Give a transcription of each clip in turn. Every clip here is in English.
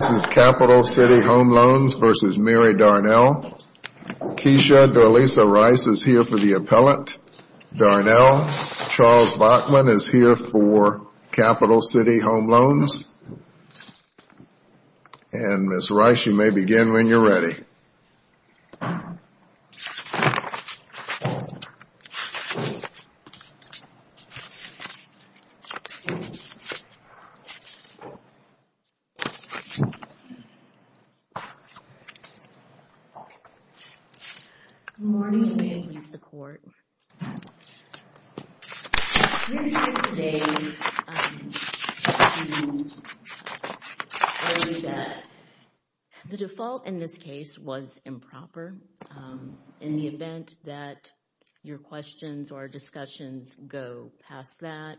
This is Capital City Home Loans v. Mary Darnell. Keisha Darlisa Rice is here for the appellate. Darnell Charles Bachman is here for Capital City Home Loans. And Ms. Rice, you may begin when you're ready. Good morning, and may it please the Court, we're here today to tell you that the default in this case was improper. In the event that your questions or discussions go past that,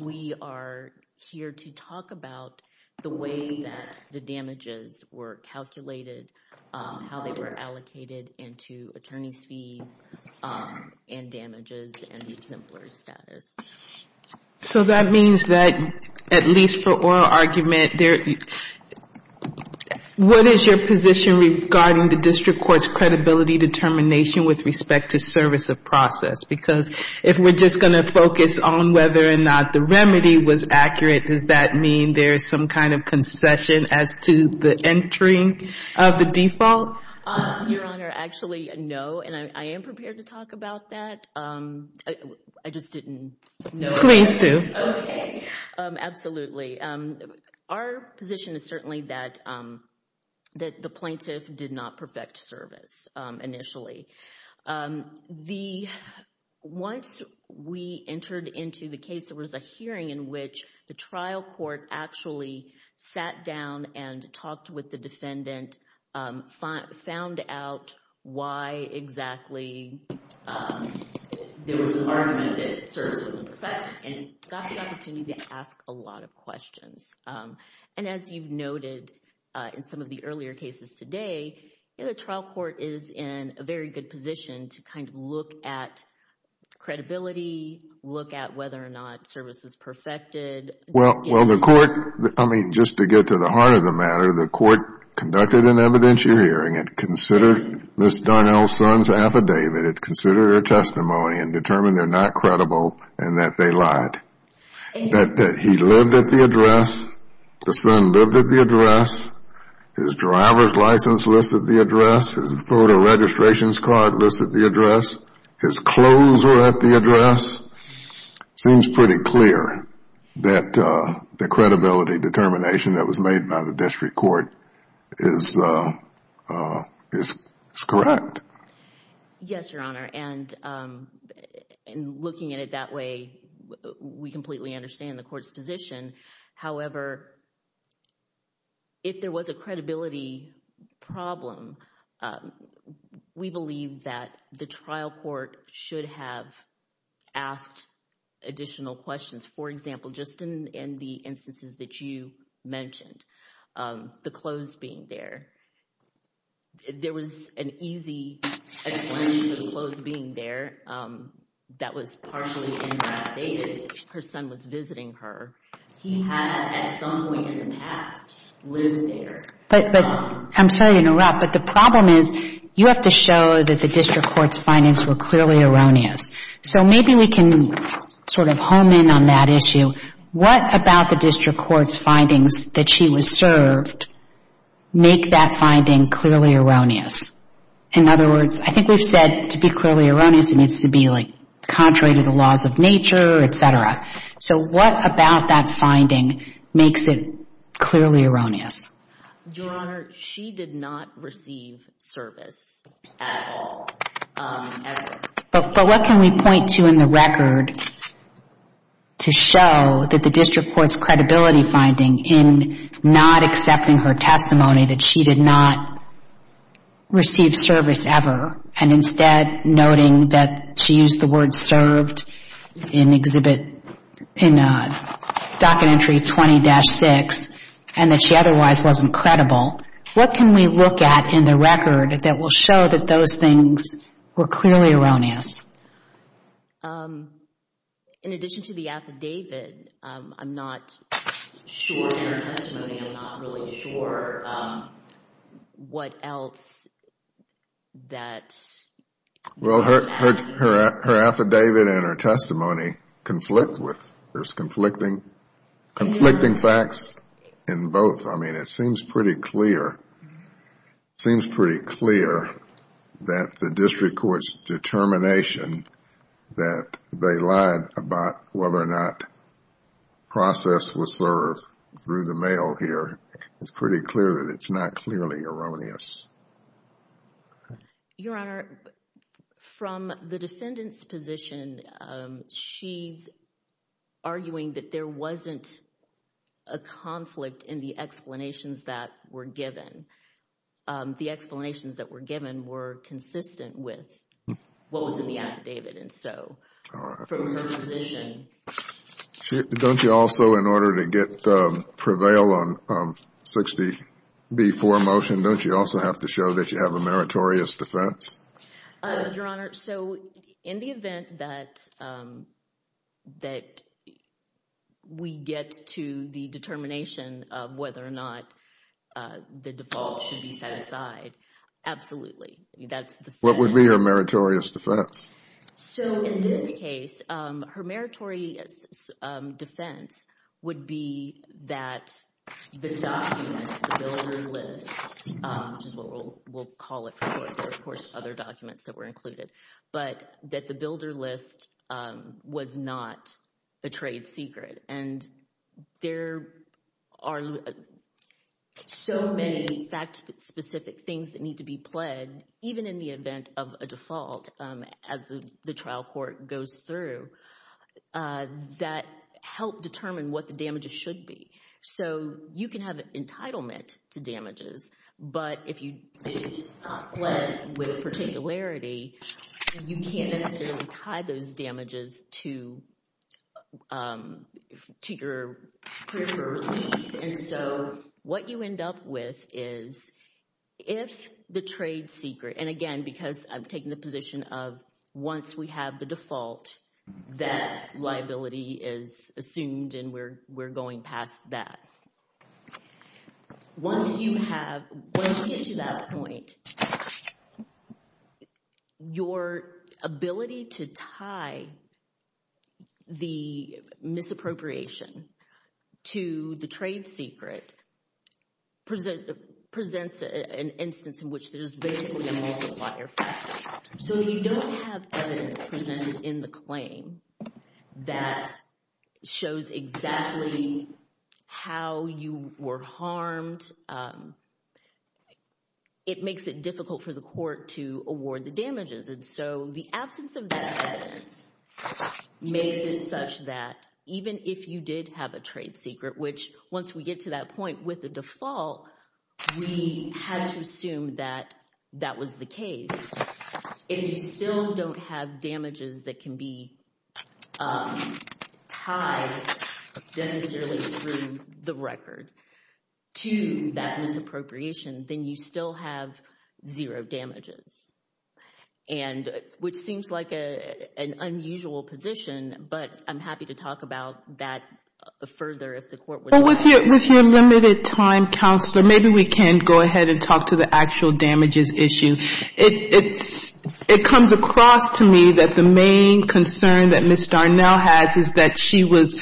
we are here to talk about the way that the damages were calculated, how they were allocated into attorney's fees and damages and exemplary status. So that means that, at least for oral argument, what is your position regarding the district court's credibility determination with respect to service of process? Because if we're just going to focus on whether or not the remedy was accurate, does that mean there is some kind of concession as to the entry of the default? Your Honor, actually, no, and I am prepared to talk about that. I just didn't know. Please do. Okay. Absolutely. Our position is certainly that the plaintiff did not perfect service initially. Once we entered into the case, there was a hearing in which the trial court actually sat down and talked with the defendant, found out why exactly there was an argument that service wasn't perfect, and got the opportunity to ask a lot of questions. As you've noted in some of the earlier cases today, the trial court is in a very good position to kind of look at credibility, look at whether or not service was perfected. Well, the court, I mean, just to get to the heart of the matter, the court conducted an evidentiary hearing. It considered Ms. Darnell's son's affidavit. It considered her testimony and determined they're not credible and that they lied. He lived at the address. The son lived at the address. His driver's license listed the address. His photo registration card listed the address. His clothes were at the address. It seems pretty clear that the credibility determination that was made by the district court is correct. Yes, Your Honor, and looking at it that way, we completely understand the court's position. However, if there was a credibility problem, we believe that the trial court should have asked additional questions. For example, just in the instances that you mentioned, the clothes being there. There was an easy explanation for the clothes being there. That was partially invalidated. Her son was visiting her. He had, at some point in the past, lived there. But I'm sorry to interrupt, but the problem is you have to show that the district court's findings were clearly erroneous. So maybe we can sort of home in on that issue. What about the district court's findings that she was served make that finding clearly erroneous? In other words, I think we've said to be clearly erroneous it needs to be, like, contrary to the laws of nature, et cetera. So what about that finding makes it clearly erroneous? Your Honor, she did not receive service at all. But what can we point to in the record to show that the district court's credibility finding in not accepting her testimony, that she did not receive service ever, and instead noting that she used the word served in docket entry 20-6 and that she otherwise wasn't credible, what can we look at in the record that will show that those things were clearly erroneous? In addition to the affidavit, I'm not sure in her testimony, I'm not really sure what else that... Well, her affidavit and her testimony conflict with conflicting facts in both. I mean, it seems pretty clear that the district court's determination that they lied about whether or not process was served through the mail here, it's pretty clear that it's not clearly erroneous. Your Honor, from the defendant's position, she's arguing that there wasn't a conflict in the explanations that were given. The explanations that were given were consistent with what was in the affidavit. And so from her position... Don't you also, in order to prevail on 60B4 motion, don't you also have to show that you have a meritorious defense? Your Honor, so in the event that we get to the determination of whether or not the default should be set aside, absolutely. What would be her meritorious defense? So in this case, her meritorious defense would be that the document, the builder list, which is what we'll call it from here, of course, other documents that were included, but that the builder list was not a trade secret. And there are so many fact-specific things that need to be pled, even in the event of a default, as the trial court goes through, that help determine what the damages should be. So you can have entitlement to damages, but if it's not pled with particularity, you can't necessarily tie those damages to your preferred relief. And so what you end up with is if the trade secret—and again, because I'm taking the position of once we have the default, that liability is assumed and we're going past that. Once you have—once you get to that point, your ability to tie the misappropriation to the trade secret presents an instance in which there is basically a multiplier effect. So if you don't have evidence presented in the claim that shows exactly how you were harmed, it makes it difficult for the court to award the damages. And so the absence of that evidence makes it such that even if you did have a trade secret, which once we get to that point with the default, we had to assume that that was the case. If you still don't have damages that can be tied necessarily through the record to that misappropriation, then you still have zero damages, which seems like an unusual position, but I'm happy to talk about that further if the court would like. Well, with your limited time, Counselor, maybe we can go ahead and talk to the actual damages issue. It comes across to me that the main concern that Ms. Darnell has is that she was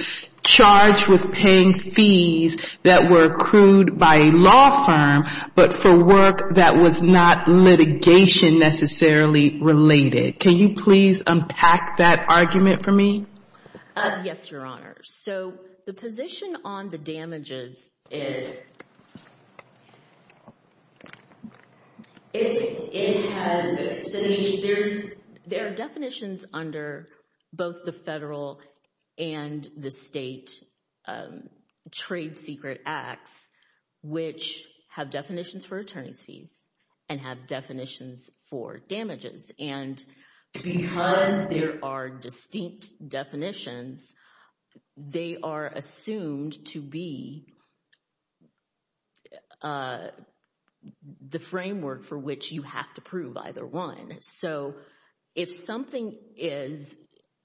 charged with paying fees that were accrued by a law firm but for work that was not litigation necessarily related. Can you please unpack that argument for me? Yes, Your Honor. So the position on the damages is it has – there are definitions under both the federal and the state trade secret acts which have definitions for attorney's fees and have definitions for damages. And because there are distinct definitions, they are assumed to be the framework for which you have to prove either one. So if something is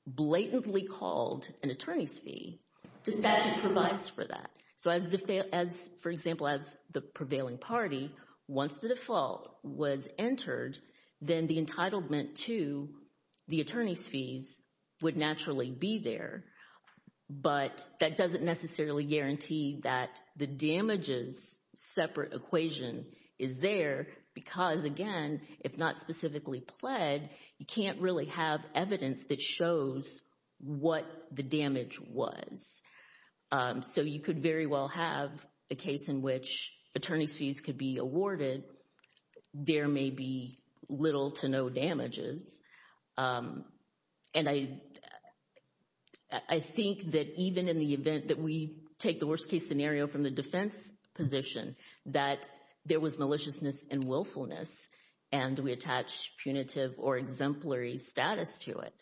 blatantly called an attorney's fee, the statute provides for that. You can't really have evidence that shows what the damage was. So you could very well have a case in which attorney's fees could be awarded. There may be little to no damages. And I think that even in the event that we take the worst-case scenario from the defense position that there was maliciousness and willfulness and we attach punitive or exemplary status to it,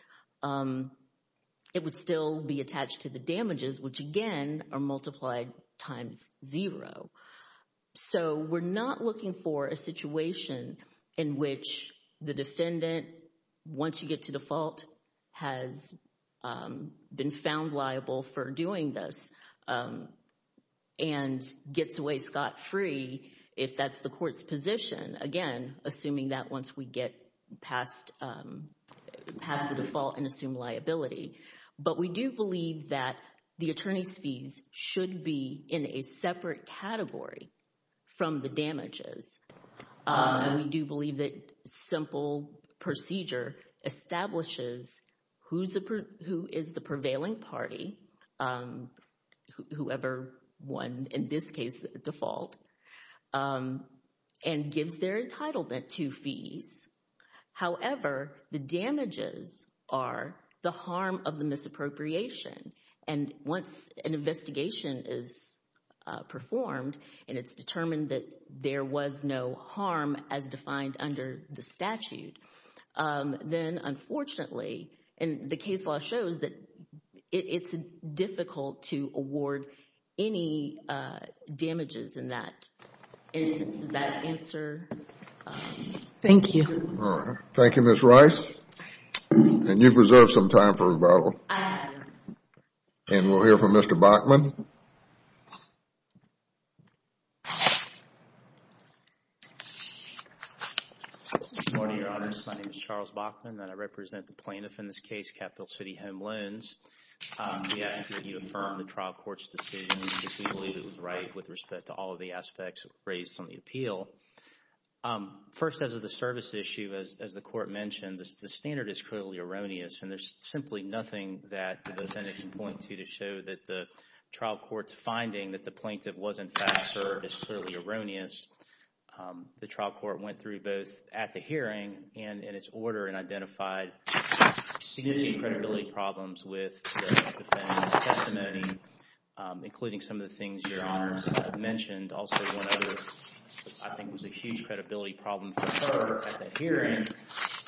it would still be attached to the damages, which again are multiplied times zero. So we're not looking for a situation in which the defendant, once you get to default, has been found liable for doing this and gets away scot-free if that's the court's position, again, assuming that once we get past the default and assume liability. But we do believe that the attorney's fees should be in a separate category from the damages. And we do believe that simple procedure establishes who is the prevailing party, whoever won in this case the default, and gives their entitlement to fees. However, the damages are the harm of the misappropriation. And once an investigation is performed and it's determined that there was no harm as defined under the statute, then unfortunately, and the case law shows that it's difficult to award any damages in that instance. Does that answer? Thank you. All right. Thank you, Ms. Rice. And you've reserved some time for rebuttal. And we'll hear from Mr. Bachman. Good morning, Your Honors. My name is Charles Bachman and I represent the plaintiff in this case, Capitol City Home Loans. We ask that you affirm the trial court's decision because we believe it was right with respect to all of the aspects raised on the appeal. First, as of the service issue, as the court mentioned, the standard is clearly erroneous. And there's simply nothing that the defendant can point to to show that the trial court's finding that the plaintiff was, in fact, served is clearly erroneous. The trial court went through both at the hearing and in its order and identified significant credibility problems with the defendant's testimony, including some of the things Your Honors mentioned. Also, one other I think was a huge credibility problem for her at the hearing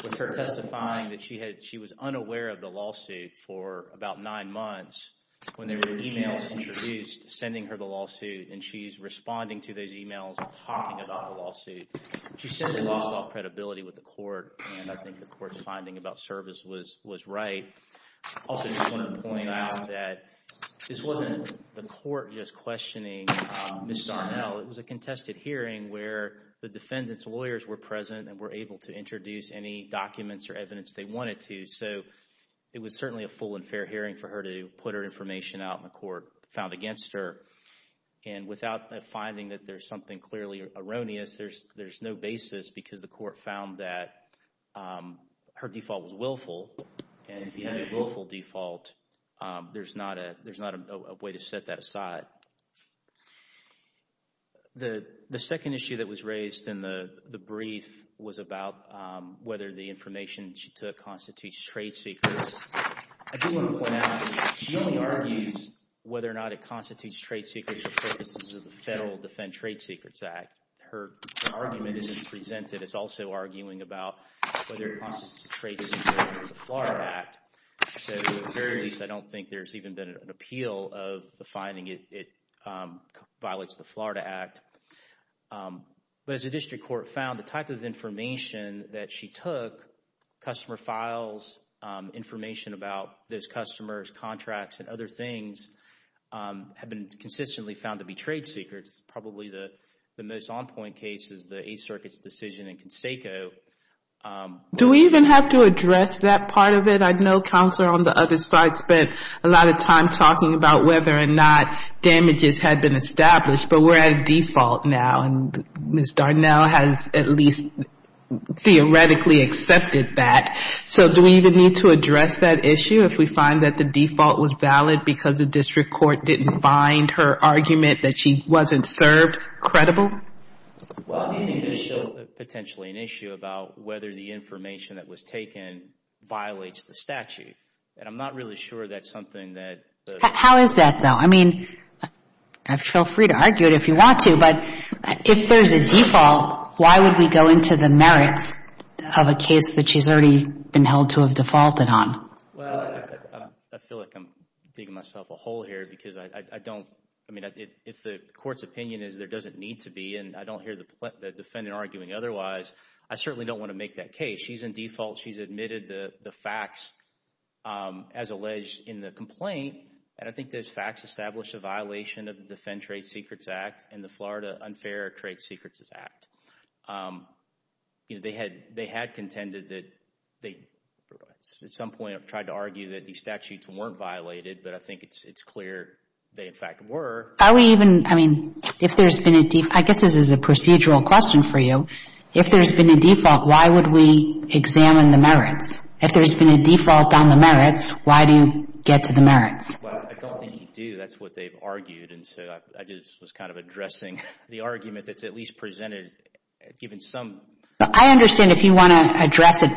was her testifying that she was unaware of the lawsuit for about nine months when there were emails introduced sending her the lawsuit. And she's responding to those emails and talking about the lawsuit. She said there was some credibility with the court, and I think the court's finding about service was right. Also, I just want to point out that this wasn't the court just questioning Ms. Darnell. It was a contested hearing where the defendant's lawyers were present and were able to introduce any documents or evidence they wanted to. So it was certainly a full and fair hearing for her to put her information out in a court found against her. And without a finding that there's something clearly erroneous, there's no basis because the court found that her default was willful. And if you had a willful default, there's not a way to set that aside. The second issue that was raised in the brief was about whether the information she took constitutes trade secrets. I do want to point out she only argues whether or not it constitutes trade secrets for purposes of the Federal Defend Trade Secrets Act. Her argument isn't presented. It's also arguing about whether it constitutes a trade secret under the FLARA Act. So at the very least, I don't think there's even been an appeal of the finding it violates the FLARA Act. But as the district court found, the type of information that she took, customer files, information about those customers, contracts, and other things have been consistently found to be trade secrets. Probably the most on-point case is the Eighth Circuit's decision in Conseco. Do we even have to address that part of it? I know Counselor on the other side spent a lot of time talking about whether or not damages had been established. But we're at a default now, and Ms. Darnell has at least theoretically accepted that. So do we even need to address that issue if we find that the default was valid because the district court didn't find her argument that she wasn't served credible? Well, do you think there's still potentially an issue about whether the information that was taken violates the statute? And I'm not really sure that's something that the- How is that, though? I mean, feel free to argue it if you want to, but if there's a default, why would we go into the merits of a case that she's already been held to have defaulted on? Well, I feel like I'm digging myself a hole here because I don't- If the court's opinion is there doesn't need to be, and I don't hear the defendant arguing otherwise, I certainly don't want to make that case. She's in default. She's admitted the facts as alleged in the complaint, and I think those facts establish a violation of the Defend Trade Secrets Act and the Florida Unfair Trade Secrets Act. They had contended that they, at some point, tried to argue that these statutes weren't violated, but I think it's clear they, in fact, were. Are we even- I mean, if there's been a- I guess this is a procedural question for you. If there's been a default, why would we examine the merits? If there's been a default on the merits, why do you get to the merits? Well, I don't think you do. That's what they've argued, and so I just was kind of addressing the argument that's at least presented given some- I understand if you want to address it.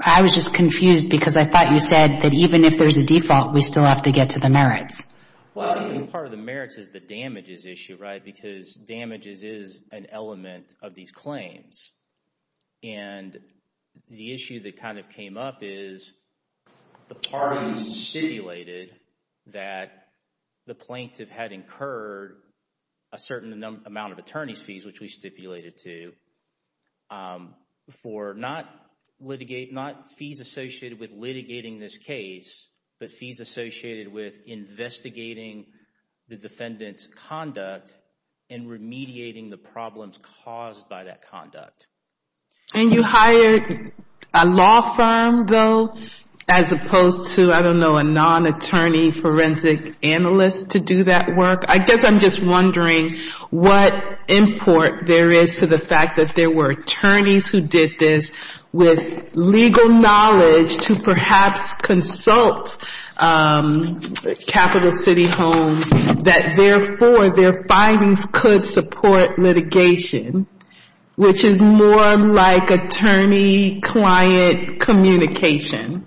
I was just confused because I thought you said that even if there's a default, we still have to get to the merits. Well, I think part of the merits is the damages issue, right, because damages is an element of these claims, and the issue that kind of came up is the parties stipulated that the plaintiff had incurred a certain amount of attorney's fees, which we stipulated to, for not fees associated with litigating this case, but fees associated with investigating the defendant's conduct and remediating the problems caused by that conduct. And you hired a law firm, though, as opposed to, I don't know, a non-attorney forensic analyst to do that work? I guess I'm just wondering what import there is to the fact that there were attorneys who did this with legal knowledge to perhaps consult Capital City Homes, that therefore their findings could support litigation, which is more like attorney-client communication.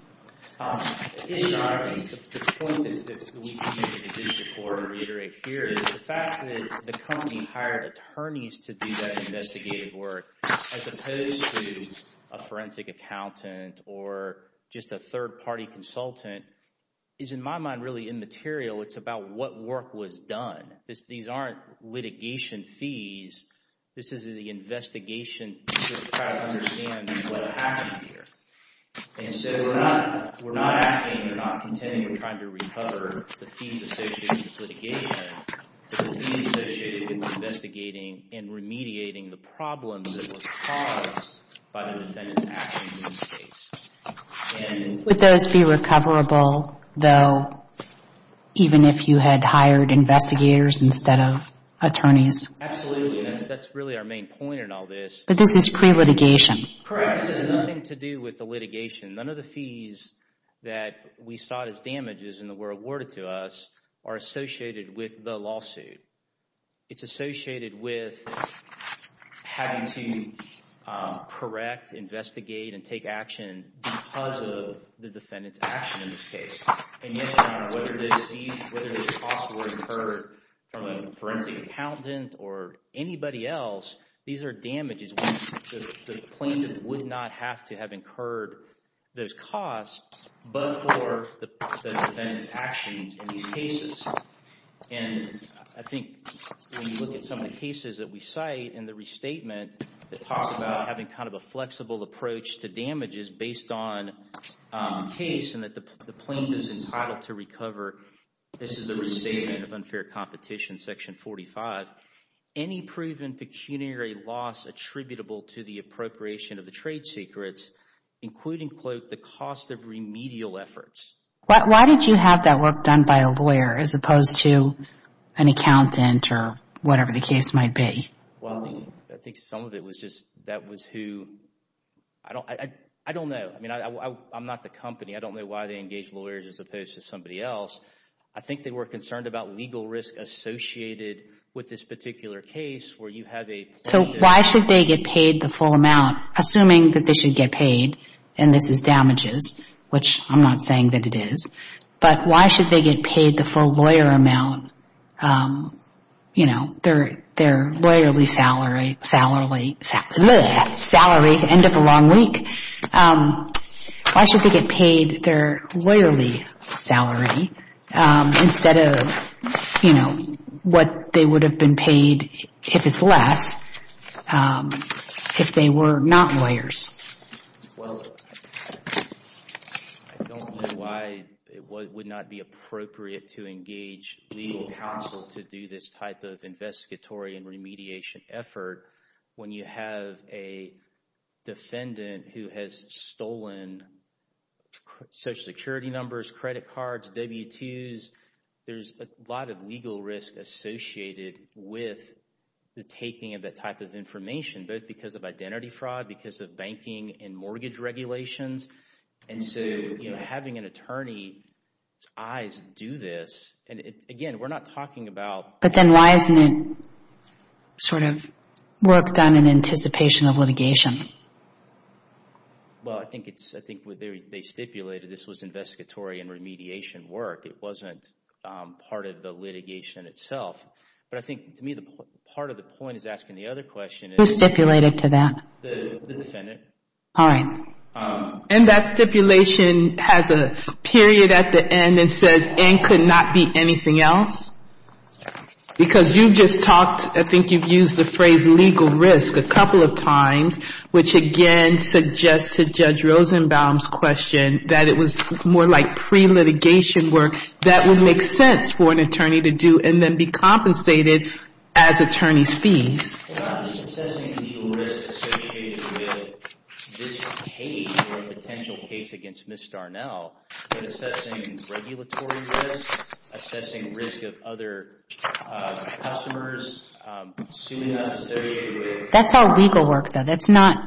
The point that we can make in addition to what I reiterate here is the fact that the company hired attorneys to do that investigative work as opposed to a forensic accountant or just a third-party consultant is, in my mind, really immaterial. It's about what work was done. These aren't litigation fees. This is the investigation to try to understand what happened here. And so we're not asking, we're not contending, we're trying to recover the fees associated with litigation, but the fees associated with investigating and remediating the problems that were caused by the defendant's actions in this case. Would those be recoverable, though, even if you had hired investigators instead of attorneys? Absolutely. That's really our main point in all this. But this is pre-litigation. Correct. This has nothing to do with the litigation. None of the fees that we saw as damages and that were awarded to us are associated with the lawsuit. It's associated with having to correct, investigate, and take action because of the defendant's action in this case. And yet, whether these costs were incurred from a forensic accountant or anybody else, these are damages when the plaintiff would not have to have incurred those costs but for the defendant's actions in these cases. And I think when you look at some of the cases that we cite in the restatement, that talks about having kind of a flexible approach to damages based on the case and that the plaintiff is entitled to recover, this is the Restatement of Unfair Competition, Section 45, any proven pecuniary loss attributable to the appropriation of the trade secrets, including, quote, the cost of remedial efforts. Why did you have that work done by a lawyer as opposed to an accountant or whatever the case might be? Well, I think some of it was just that was who, I don't know. I mean, I'm not the company. I don't know why they engaged lawyers as opposed to somebody else. I think they were concerned about legal risk associated with this particular case where you have a plaintiff. So why should they get paid the full amount, assuming that they should get paid and this is damages, which I'm not saying that it is, but why should they get paid the full lawyer amount? You know, their lawyerly salary, end of a long week. Why should they get paid their lawyerly salary instead of, you know, what they would have been paid if it's less if they were not lawyers? Well, I don't know why it would not be appropriate to engage legal counsel to do this type of investigatory and remediation effort when you have a defendant who has stolen Social Security numbers, credit cards, W-2s. There's a lot of legal risk associated with the taking of that type of information, both because of identity fraud, because of banking and mortgage regulations. And so, you know, having an attorney's eyes do this, and again, we're not talking about... But then why isn't it sort of work done in anticipation of litigation? Well, I think they stipulated this was investigatory and remediation work. It wasn't part of the litigation itself. But I think, to me, part of the point is asking the other question. Who stipulated to that? The defendant. All right. And that stipulation has a period at the end and says, and could not be anything else? Because you've just talked, I think you've used the phrase legal risk a couple of times, which again suggests to Judge Rosenbaum's question that it was more like pre-litigation work that would make sense for an attorney to do and then be compensated as attorney's fees. Well, I'm just assessing the legal risk associated with this case or potential case against Ms. Starnell. But assessing regulatory risk, assessing risk of other customers, assuming that's associated with... That's all legal work, though. That's not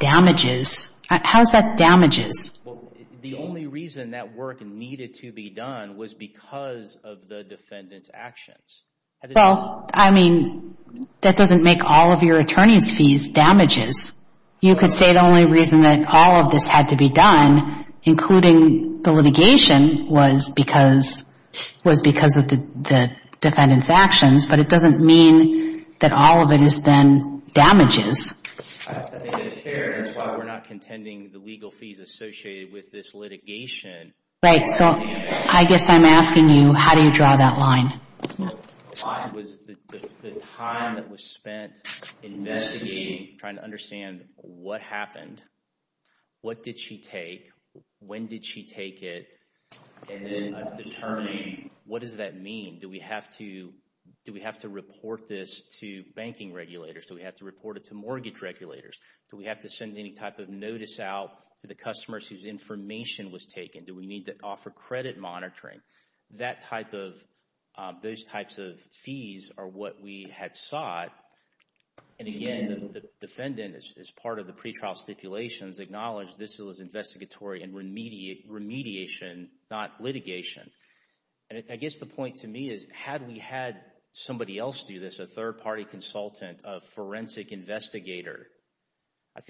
damages. How is that damages? Well, the only reason that work needed to be done was because of the defendant's actions. Well, I mean, that doesn't make all of your attorney's fees damages. You could say the only reason that all of this had to be done, including the litigation, was because of the defendant's actions, but it doesn't mean that all of it is then damages. I think it's fair. That's why we're not contending the legal fees associated with this litigation. Right. So I guess I'm asking you, how do you draw that line? The line was the time that was spent investigating, trying to understand what happened. What did she take? When did she take it? And then determining what does that mean? Do we have to report this to banking regulators? Do we have to report it to mortgage regulators? Do we have to send any type of notice out to the customers whose information was taken? Do we need to offer credit monitoring? Those types of fees are what we had sought. And again, the defendant, as part of the pretrial stipulations, acknowledged this was investigatory and remediation, not litigation. And I guess the point to me is, had we had somebody else do this, a third-party consultant, a forensic investigator, I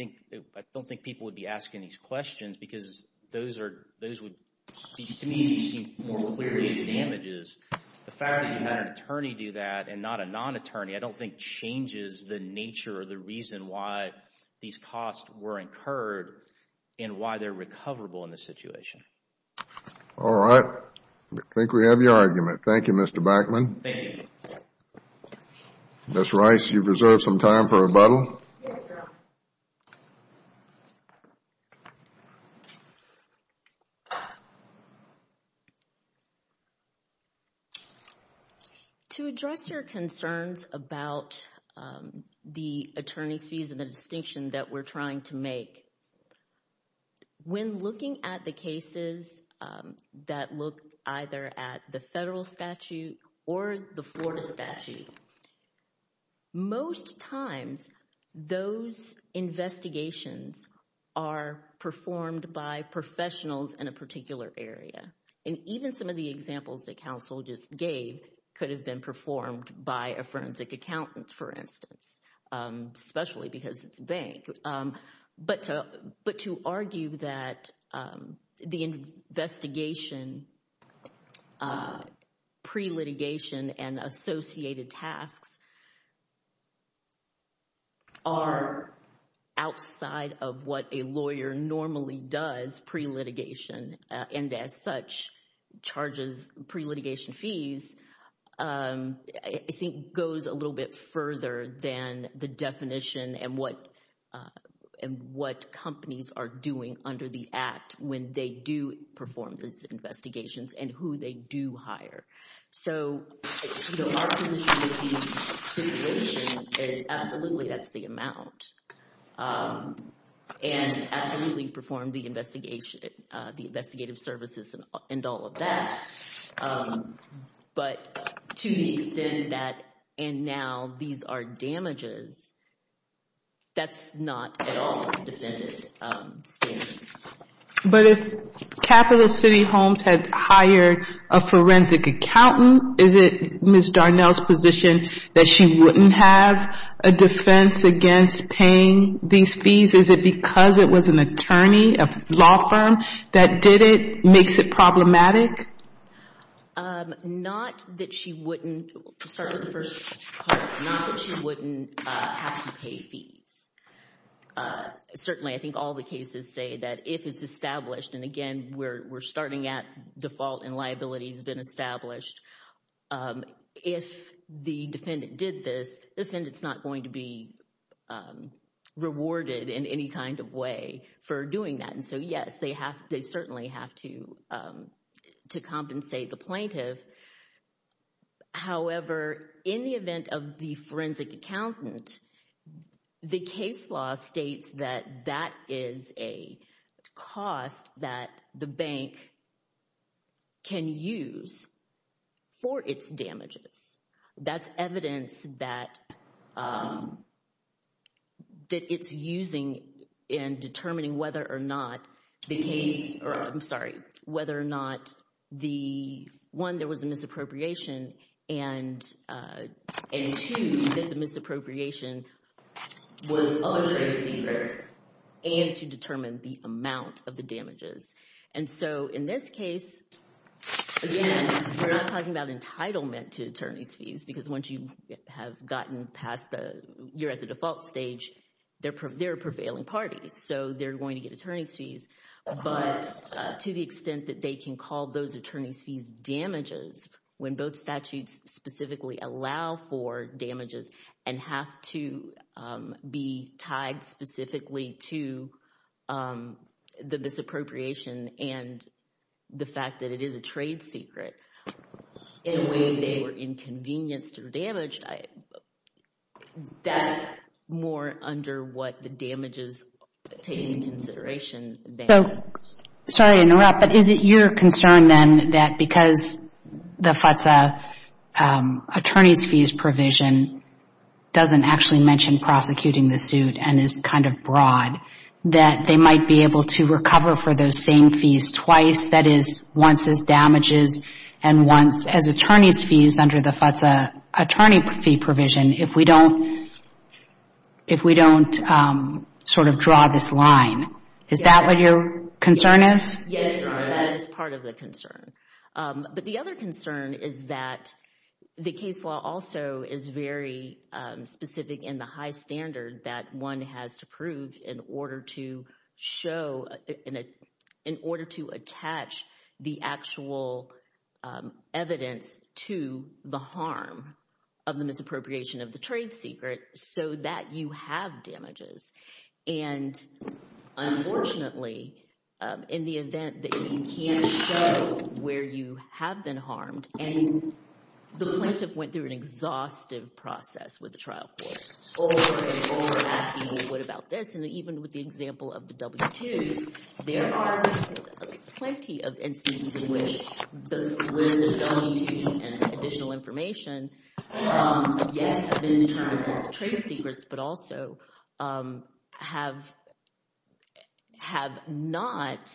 don't think people would be asking these questions because those would, to me, seem more clearly damages. The fact that you had an attorney do that and not a non-attorney, I don't think changes the nature or the reason why these costs were incurred and why they're recoverable in this situation. All right. I think we have your argument. Thank you, Mr. Backman. Thank you. Ms. Rice, you've reserved some time for rebuttal. Yes, sir. To address your concerns about the attorney's fees and the distinction that we're trying to make, when looking at the cases that look either at the federal statute or the Florida statute, most times those investigations are performed by professionals in a particular area. And even some of the examples that counsel just gave could have been performed by a forensic accountant, for instance, especially because it's a bank. But to argue that the investigation pre-litigation and associated tasks are outside of what a lawyer normally does pre-litigation and, as such, charges pre-litigation fees, I think goes a little bit further than the definition and what companies are doing under the Act when they do perform these investigations and who they do hire. So our position with the situation is absolutely that's the amount and absolutely perform the investigative services and all of that. But to the extent that, and now these are damages, that's not at all defended standards. But if Capital City Homes had hired a forensic accountant, is it Ms. Darnell's position that she wouldn't have a defense against paying these fees? Is it because it was an attorney, a law firm that did it, makes it problematic? Not that she wouldn't have to pay fees. Certainly, I think all the cases say that if it's established, and again, we're starting at default and liability has been established. If the defendant did this, the defendant's not going to be rewarded in any kind of way for doing that. And so yes, they certainly have to compensate the plaintiff. However, in the event of the forensic accountant, the case law states that that is a cost that the bank can use for its damages. That's evidence that it's using in determining whether or not the case, or I'm sorry, whether or not the, one, there was a misappropriation, and two, that the misappropriation was of attorney secret and to determine the amount of the damages. And so in this case, again, we're not talking about entitlement to attorney's fees, because once you have gotten past the, you're at the default stage, they're a prevailing party, so they're going to get attorney's fees. But to the extent that they can call those attorney's fees damages, when both statutes specifically allow for damages and have to be tied specifically to the misappropriation and the fact that it is a trade secret, in a way they were inconvenienced or damaged, that's more under what the damages take into consideration. So, sorry to interrupt, but is it your concern, then, that because the FTSA attorney's fees provision doesn't actually mention prosecuting the suit and is kind of broad, that they might be able to recover for those same fees twice, that is, once as damages and once as attorney's fees under the FTSA attorney fee provision, if we don't sort of draw this line? Is that what your concern is? Yes, that is part of the concern. But the other concern is that the case law also is very specific in the high standard that one has to prove in order to show, in order to attach the actual evidence to the harm of the misappropriation of the trade secret, so that you have damages. And unfortunately, in the event that you can't show where you have been harmed, and the plaintiff went through an exhaustive process with the trial court, over and over asking, well, what about this? And even with the example of the W-2s, there are plenty of instances in which those W-2s and additional information, yes, have been determined as trade secrets, but also have not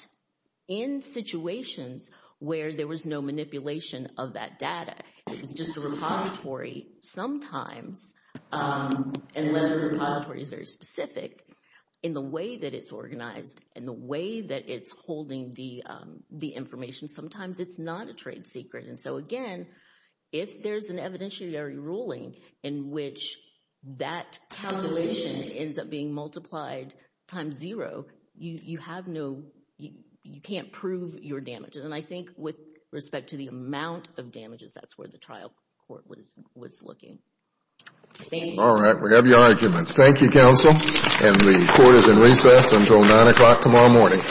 in situations where there was no manipulation of that data. It was just a repository. Sometimes, unless the repository is very specific, in the way that it's organized and the way that it's holding the information, sometimes it's not a trade secret. And so, again, if there's an evidentiary ruling in which that calculation ends up being multiplied times zero, you have no, you can't prove your damages. And I think with respect to the amount of damages, that's where the trial court was looking. Thank you. All right, we have your arguments. Thank you, counsel. And the court is in recess until 9 o'clock tomorrow morning.